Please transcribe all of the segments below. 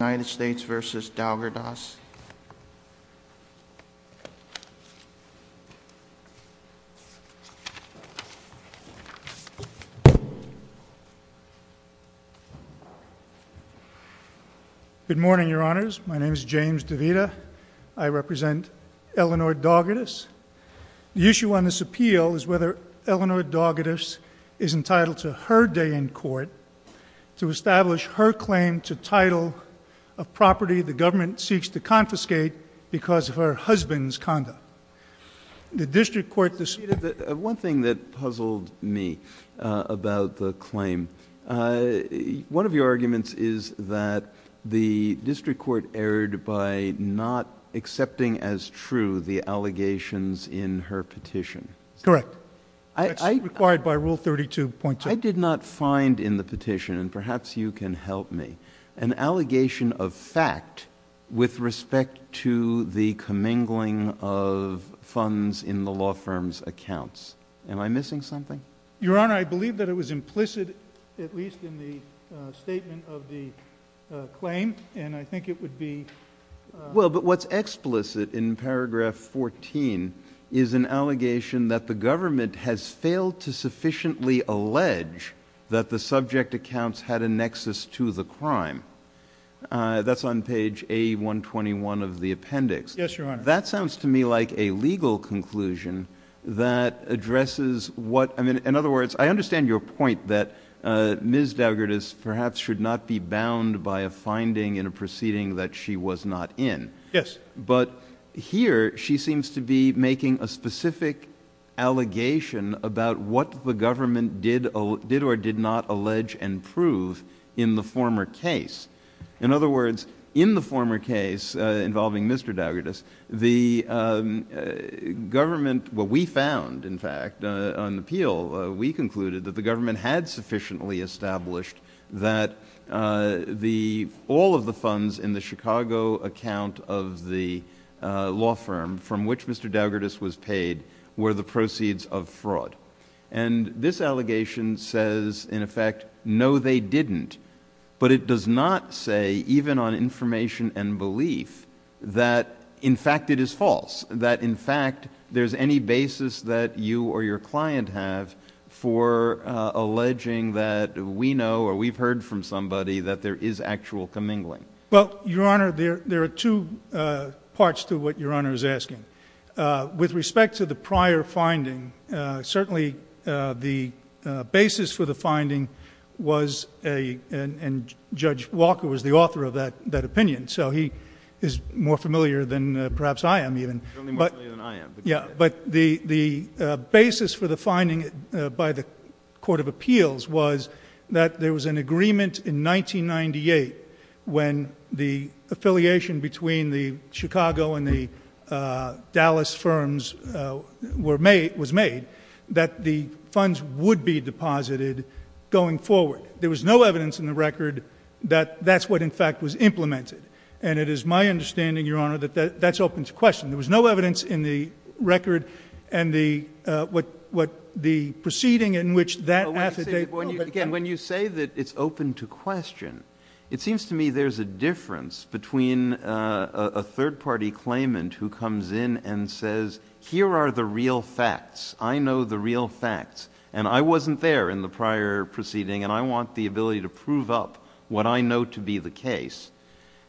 Good morning, Your Honors. My name is James DeVita. I represent Eleanor Daugadis. The issue on this appeal is whether Eleanor Daugadis is entitled to her day in court to establish her claim to title of property the government seeks to confiscate because of her husband's conduct. The district court decided— One thing that puzzled me about the claim, one of your arguments is that the district court erred by not accepting as true the allegations in her petition. Correct. That's required by Rule 32.2. I did not find in the petition, perhaps you can help me, an allegation of fact with respect to the commingling of funds in the law firm's accounts. Am I missing something? Your Honor, I believe that it was implicit, at least in the statement of the claim, and I think it would be— Well, but what's explicit in paragraph 14 is an allegation that the government has failed to sufficiently allege that the subject accounts had a nexus to the crime. That's on page A121 of the appendix. Yes, Your Honor. That sounds to me like a legal conclusion that addresses what— I mean, in other words, I understand your point that Ms. Daugadis perhaps should not be bound by a finding in a proceeding that she was not in. Yes. But here, she seems to be making a specific allegation about what the government did or did not allege and prove in the former case. In other words, in the former case involving Mr. Daugadis, the government— Well, we found, in fact, on the appeal, we concluded that the government had sufficiently established that all of the funds in the Chicago account of the law firm from which Mr. Daugadis was paid were the proceeds of fraud. And this allegation says, in effect, no, they didn't. But it does not say, even on information and belief, that, in fact, it is false, that, in fact, there's any basis that you or your client have for alleging that we know or we've heard from somebody that there is actual commingling. Well, Your Honor, there are two parts to what Your Honor is asking. With respect to the prior finding, certainly the basis for the finding was a—and Judge Walker was the author of that opinion, so he is more familiar than perhaps I am even. He's only more familiar than I am. Yeah. But the basis for the finding by the Court of Appeals was that there was an evidence in the record that the funds would be deposited going forward. There was no evidence in the record that that's what, in fact, was implemented. And it is my understanding, Your Honor, that that's open to question. There was no evidence in the record and the proceeding in which that affidavit— Again, when you say that it's open to question, it seems to me there's a difference between a third-party claimant who comes in and says, here are the real facts. I know the real facts, and I wasn't there in the prior proceeding, and I want the ability to prove up what I know to be the case,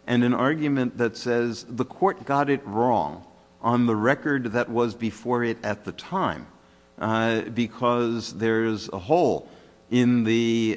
and an argument that says the court got it wrong on the record that was before it at the time because there's a hole in the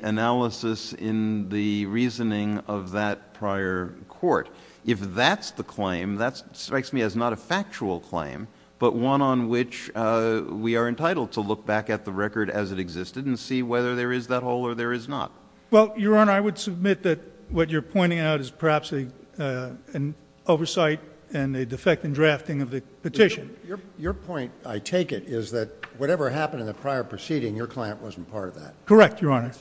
reasoning of that prior court. If that's the claim, that strikes me as not a factual claim, but one on which we are entitled to look back at the record as it existed and see whether there is that hole or there is not. Well, Your Honor, I would submit that what you're pointing out is perhaps an oversight and a defect in drafting of the petition. Your point, I take it, is that whatever happened in the prior proceeding, your client wasn't part of that. Correct, Your Honor?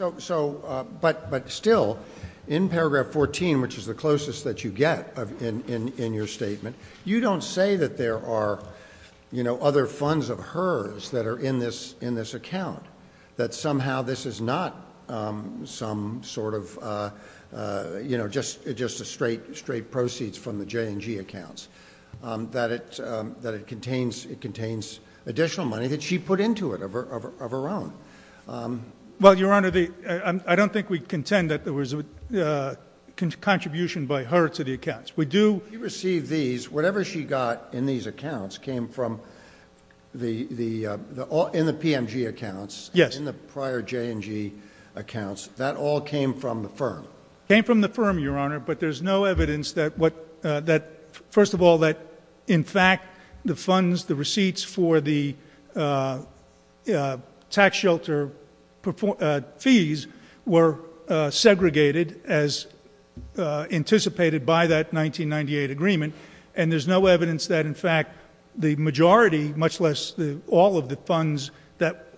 But still, in paragraph 14, which is the closest that you get in your statement, you don't say that there are other funds of hers that are in this account, that somehow this is not some sort of just straight proceeds from the J&G accounts, that it contains additional money that she put into it of her own. Well, Your Honor, I don't think we contend that there was a contribution by her to the accounts. We do receive these, whatever she got in these accounts came from the PMG accounts, in the prior J&G accounts, that all came from the firm. It came from the firm, Your Honor, but there's no evidence that, first of all, that in fact the funds, the receipts for the tax shelter fees were segregated as anticipated by that 1998 agreement, and there's no evidence that, in fact, the majority, much less all of the funds that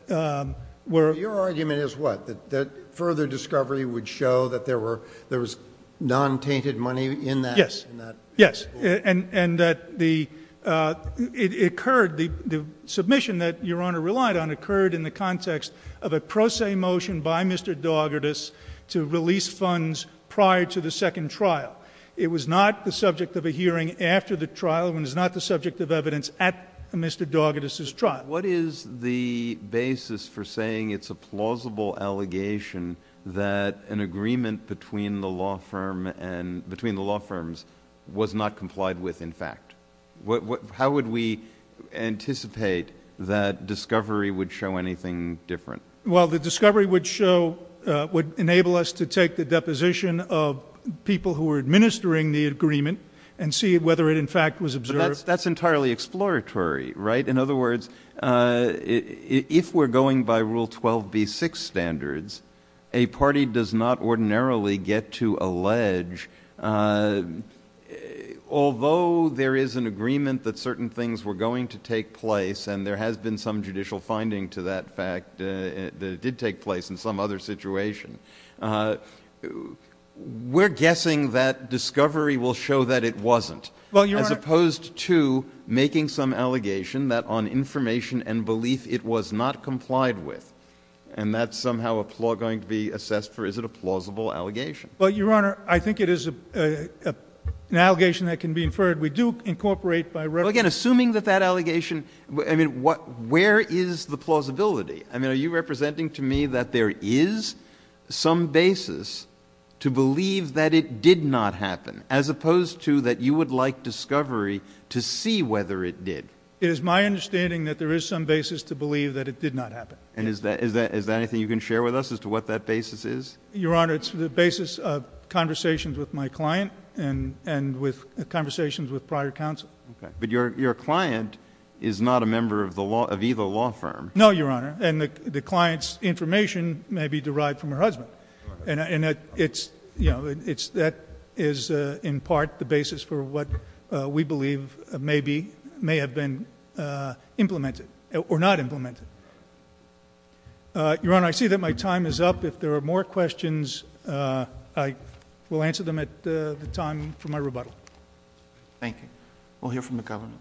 were— Your argument is what? That further discovery would show that there was non-tainted money in that? Yes, and that the submission that Your Honor relied on occurred in the context of a pro se motion by Mr. Daugertis to release funds prior to the second trial. It was not the subject of a hearing after the trial and is not the subject of evidence at Mr. Daugertis' trial. What is the basis for saying it's a plausible allegation that an agreement between the law firms was not complied with in fact? How would we anticipate that discovery would show anything different? Well, the discovery would show, would enable us to take the deposition of people who were administering the agreement and see whether it, in fact, was observed. That's entirely exploratory, right? In other words, if we're going by Rule 12b-6 standards, a party does not Although there is an agreement that certain things were going to take place, and there has been some judicial finding to that fact that it did take place in some other situation, we're guessing that discovery will show that it wasn't, as opposed to making some allegation that on information and belief it was not complied with. And that's somehow going to be assessed for, is it a plausible allegation? Well, Your Honor, I think it is an allegation that can be inferred. We do incorporate by reference... Well, again, assuming that that allegation, I mean, where is the plausibility? I mean, are you representing to me that there is some basis to believe that it did not happen, as opposed to that you would like discovery to see whether it did? It is my understanding that there is some basis to believe that it did not happen. And is that anything you can share with us as to what that basis is? Your Honor, it's the basis of conversations with my client and with conversations with prior counsel. Okay, but your client is not a member of the law, of either law firm. No, Your Honor, and the client's information may be derived from her husband. And it's, you know, it's, that is in part the basis for what we believe may be, may have been implemented, or not implemented. Your Honor, I see that my time is up. If there are more questions, I will answer them at the time for my rebuttal. Thank you. We'll hear from the government.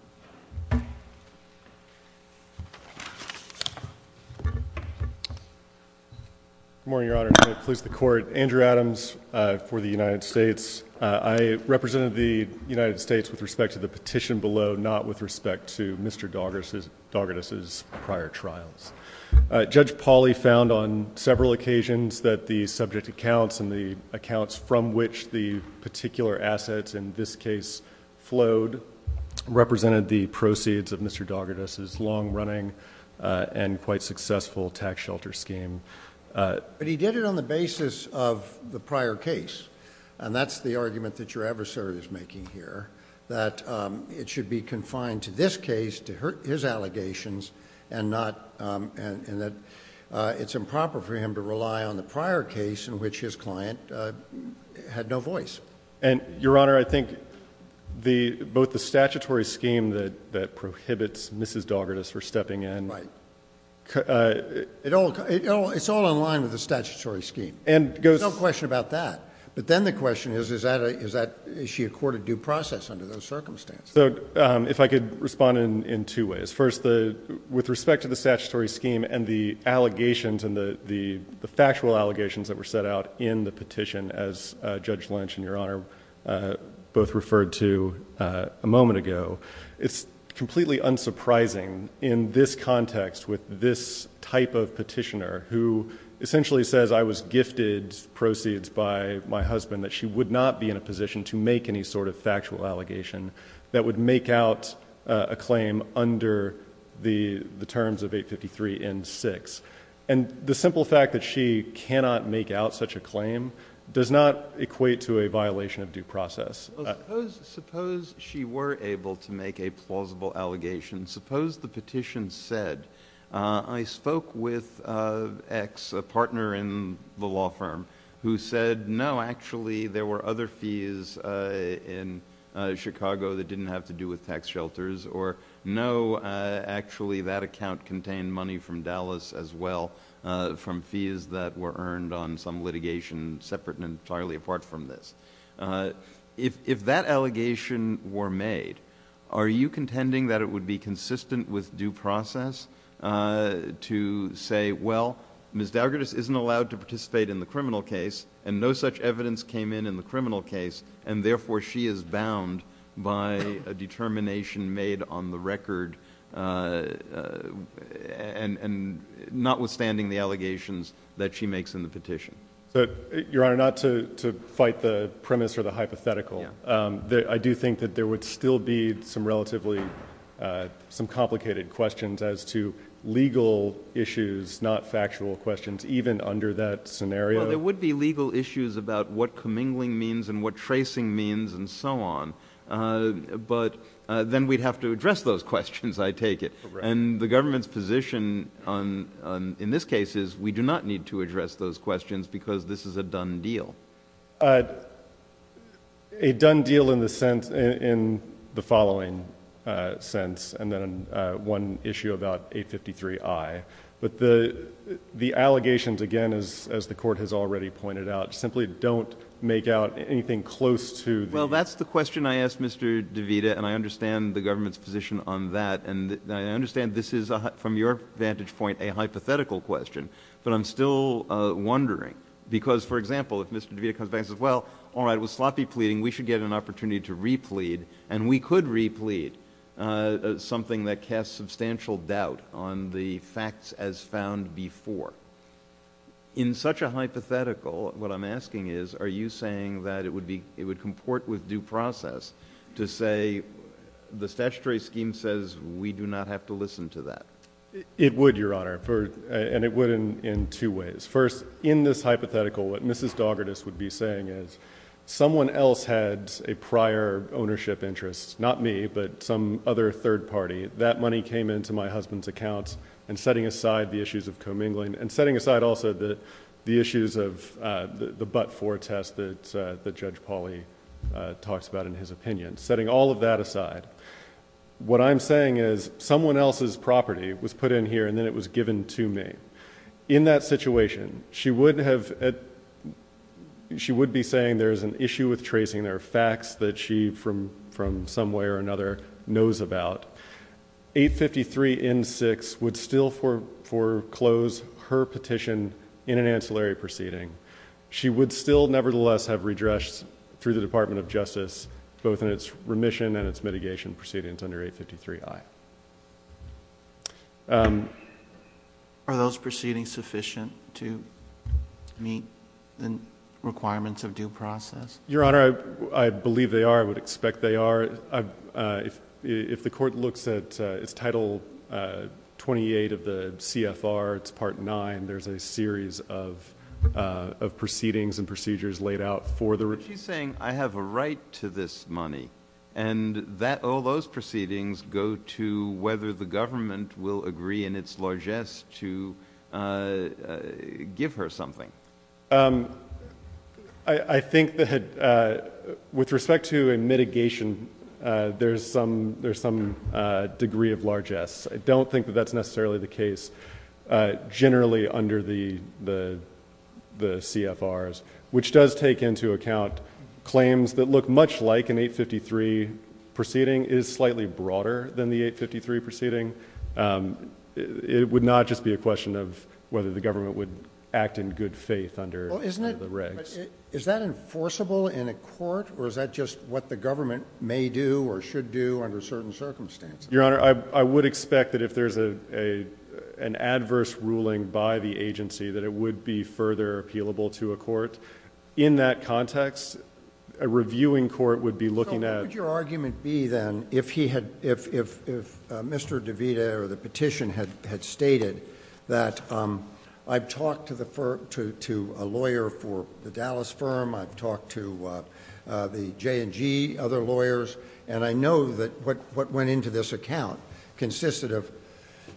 Good morning, Your Honor, and may it please the Court. Andrew Adams for the United States. I represent the United States with respect to the petition below, not with respect to Mr. Daugherty's prior trials. Judge Pauley found on several occasions that the subject accounts and the accounts from which the particular assets in this case flowed represented the proceeds of Mr. Daugherty's long-running and quite successful tax shelter scheme. But he did it on the basis of the prior case, and that's the argument that your adversary is making here, that it should be confined to this case, to his allegations, and not, and that it's improper for him to rely on the prior case in which his client had no voice. And, Your Honor, I think the, both the statutory scheme that prohibits Mrs. Daugherty's for stepping in. Right. It all, it's all in line with the statutory scheme. And goes. No question about that. But then the question is, is that a, is that, is she a court of due process under those circumstances? So, um, if I could respond in, in two ways. First, the, with respect to the statutory scheme and the allegations and the, the, the factual allegations that were set out in the petition as, uh, Judge Lynch and Your Honor, uh, both referred to, uh, a moment ago. It's completely unsurprising in this context with this type of petitioner who essentially says, I was gifted proceeds by my husband, that she would not be in a position to make any sort of factual allegation that would make out a claim under the, the terms of 853 N6. And the simple fact that she cannot make out such a claim does not equate to a violation of due process. Suppose she were able to make a plausible allegation. Suppose the petition said, uh, I spoke with, uh, X, a partner in the law firm, who said, no, actually there were other fees, uh, in, uh, Chicago that didn't have to do with tax shelters. Or no, uh, actually that account contained money from Dallas as well, uh, from fees that were earned on some litigation separate and entirely apart from this. Uh, if, if that allegation were made, are you contending that it would be say, well, Ms. Douglas isn't allowed to participate in the criminal case and no such evidence came in, in the criminal case. And therefore she is bound by a determination made on the record, uh, uh, and, and notwithstanding the allegations that she makes in the petition. So your Honor, not to, to fight the premise or the hypothetical, um, that I do think that there would still be some relatively, uh, some complicated questions as to issues, not factual questions, even under that scenario. Well, there would be legal issues about what commingling means and what tracing means and so on. Uh, but, uh, then we'd have to address those questions, I take it. And the government's position on, on, in this case is we do not need to address those questions because this is a done deal. Uh, a done deal in the sense, in the following, uh, sense. And then, uh, one issue about 853I, but the, the allegations again, as, as the court has already pointed out, simply don't make out anything close to the... Well, that's the question I asked Mr. DeVita and I understand the government's position on that. And I understand this is a, from your vantage point, a hypothetical question, but I'm still, uh, wondering because for example, if Mr. DeVita comes back and says, well, all right, it was sloppy pleading, we should get an opportunity to replete and we could replete, something that casts substantial doubt on the facts as found before. In such a hypothetical, what I'm asking is, are you saying that it would be, it would comport with due process to say the statutory scheme says we do not have to listen to that? It would, Your Honor, for, and it would in, in two ways. First, in this hypothetical, what Mrs. Doggartis would be saying is someone else had a prior ownership interest, not me, but some other third party. That money came into my husband's accounts and setting aside the issues of commingling and setting aside also the, the issues of, uh, the, the but-for test that, uh, that Judge Pauly, uh, talks about in his opinion, setting all of that aside. What I'm saying is someone else's property was put in here and then it was given to me. In that situation, she wouldn't have, uh, she would be saying there's an issue with her, uh, property that she was not aware knows about. 853 N6 would still fore, foreclose her petition in an ancillary proceeding. She would still nevertheless have redressed through the Department of Justice, both in its remission and its mitigation proceedings under 853 I. Um. Are those proceedings sufficient to meet the requirements of due process? Your Honor, I believe they are. I would expect they are. Uh, if if the court looks at its title, uh, 28 of the CFR, it's part nine. There's a series of, uh, of proceedings and procedures laid out for the saying I have a right to this money and that all those proceedings go to whether the government will agree in its largest to, uh, give her something. Um, I think that, uh, with respect to a mitigation, uh, there's some, there's some, uh, degree of largesse. I don't think that that's necessarily the case, uh, generally under the, the, the CFRs, which does take into account claims that look much like an 853 proceeding is slightly broader than the 853 proceeding. Um, it would not just be a question of whether the government would act in good faith under the regs. Is that enforceable in a court or is that just what the government may do or should do under certain circumstances? Your Honor, I would expect that if there's a, a, an adverse ruling by the agency, that it would be further appealable to a court in that context. A reviewing court would be looking at your argument be then if he had, if, if, if, uh, Mr. DeVita or the petition had, had stated that, um, I've talked to the firm to, to a lawyer for the Dallas firm. I've talked to, uh, uh, the J and G other lawyers. And I know that what, what went into this account consisted of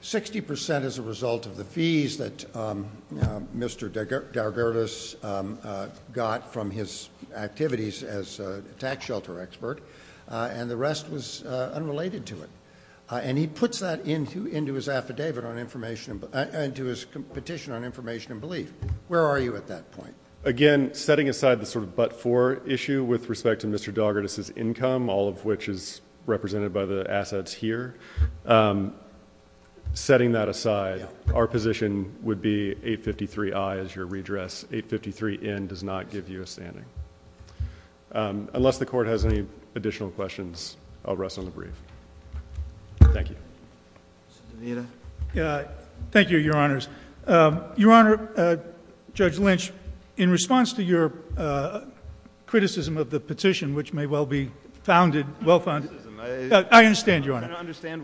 60% as a result of the fees that, um, uh, Mr. Darger, this, um, uh, got from his activities as a tax shelter expert. Uh, and the rest was, uh, unrelated to it. Uh, and he puts that into, into his affidavit on information and to his petition on information and belief. Where are you at that point? Again, setting aside the sort of, but for issue with respect to Mr. Dogger, this is income, all of which is represented by the assets here. Um, setting that aside, our position would be eight 53 eyes. Your redress eight 53 in does not give you a standing. Um, unless the court has any additional questions, I'll rest on the brief. Thank you. Yeah. Thank you, your honors. Um, your honor, uh, judge Lynch in response to your, uh, criticism of the petition, which may well be founded well fund. I understand your honor.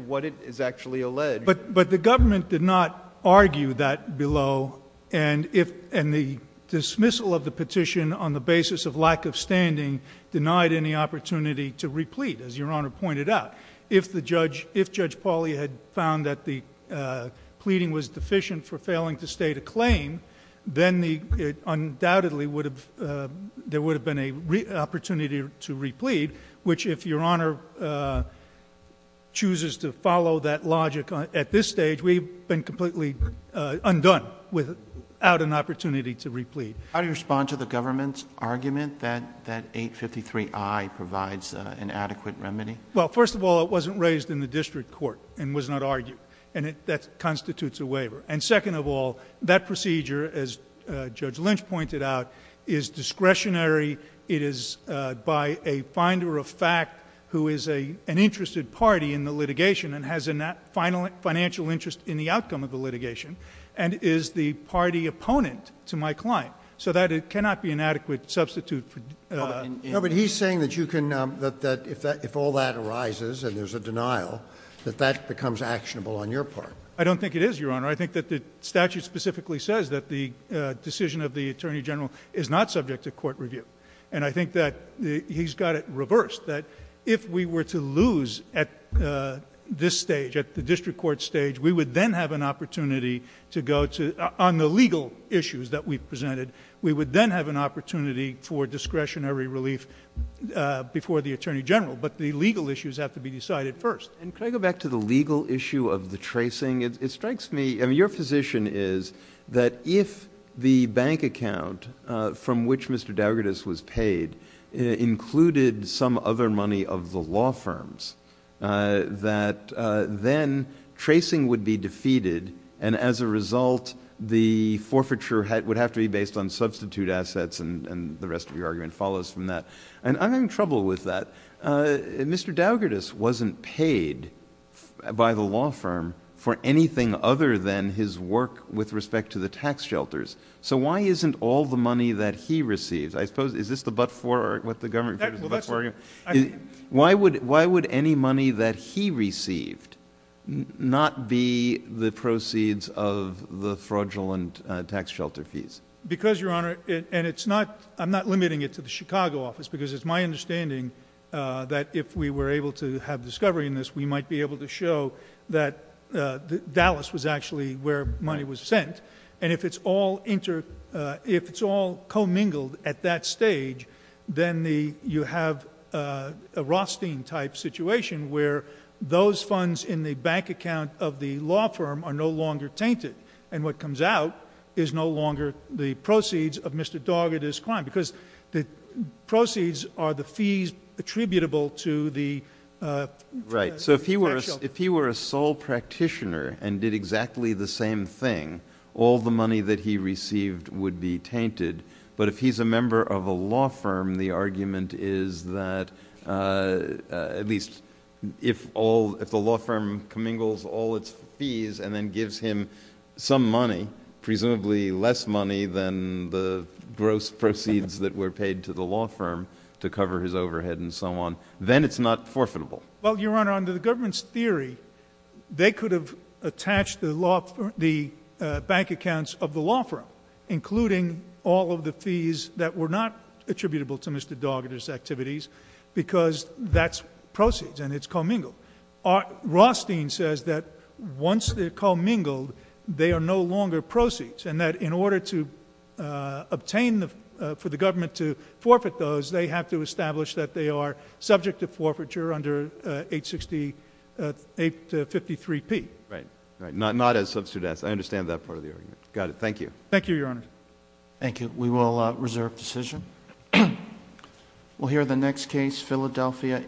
What it is actually alleged, but, but the government did not argue that below. And if, and the dismissal of the petition on the basis of lack of standing denied any opportunity to replete as your honor pointed out, if the judge, if judge Pauly had found that the, uh, pleading was deficient for failing to state a claim, then the undoubtedly would have, uh, there would have been a opportunity to replete, which if your honor, uh, chooses to follow that logic at this stage, we've been completely, uh, undone without an opportunity to replete. How do you respond to the government's argument that, that eight 53 I provides an adequate remedy. Well, first of all, it wasn't raised in the district court and was not argued. And that's constitutes a waiver. And it is, uh, by a finder of fact, who is a, an interested party in the litigation and has a final financial interest in the outcome of the litigation and is the party opponent to my client so that it cannot be an adequate substitute for, uh, no, but he's saying that you can, um, that, that if that, if all that arises and there's a denial that that becomes actionable on your part, I don't think it is your honor. I think that the statute specifically says that the decision of attorney general is not subject to court review. And I think that he's got it reversed that if we were to lose at, uh, this stage at the district court stage, we would then have an opportunity to go to on the legal issues that we've presented. We would then have an opportunity for discretionary relief, uh, before the attorney general, but the legal issues have to be decided first. And can I go back to the legal issue of the tracing? It strikes me. I mean, your position is that if the bank account, uh, from which Mr. Dougherty was paid, uh, included some other money of the law firms, uh, that, uh, then tracing would be defeated. And as a result, the forfeiture would have to be based on substitute assets and the rest of your argument follows from that. And I'm having trouble with that. Uh, Mr. Dougherty wasn't paid by the law firm for anything other than his work with respect to the tax shelters. So why isn't all the money that he receives, I suppose, is this the, but for what the government, why would, why would any money that he received not be the proceeds of the fraudulent tax shelter fees? Because your honor, and it's not, I'm not limiting it to the Chicago office because it's my understanding, uh, that if we were able to have discovery in this, we might be able to show that, uh, Dallas was actually where money was sent. And if it's all inter, uh, if it's all co-mingled at that stage, then the, you have, uh, a Rothstein type situation where those funds in the bank account of the law firm are no longer tainted. And what comes out is no longer the proceeds of Mr. Dougherty's crime because the proceeds are the fees attributable to the, uh, right. So if he were, if he were a sole practitioner and did exactly the same thing, all the money that he received would be tainted. But if he's a member of a law firm, the argument is that, uh, uh, at least if all, if the law firm commingles all its fees and then gives him some money, presumably less money than the gross proceeds that were paid to the law firm to cover his overhead and so on, then it's not forfeitable. Well, your Honor, under the government's theory, they could have attached the law for the, uh, bank accounts of the law firm, including all of the fees that were not attributable to Mr. Dougherty's activities, because that's proceeds and it's co-mingled. Our Rothstein says that once they're co-mingled, they are no longer proceeds. And that in order to, uh, obtain the, uh, for the government to subject to forfeiture under, uh, 860, uh, 853 P. Right. Right. Not, not as substitute. I understand that part of the argument. Got it. Thank you. Thank you, Your Honor. Thank you. We will, uh, reserve decision. We'll hear the next case Philadelphia.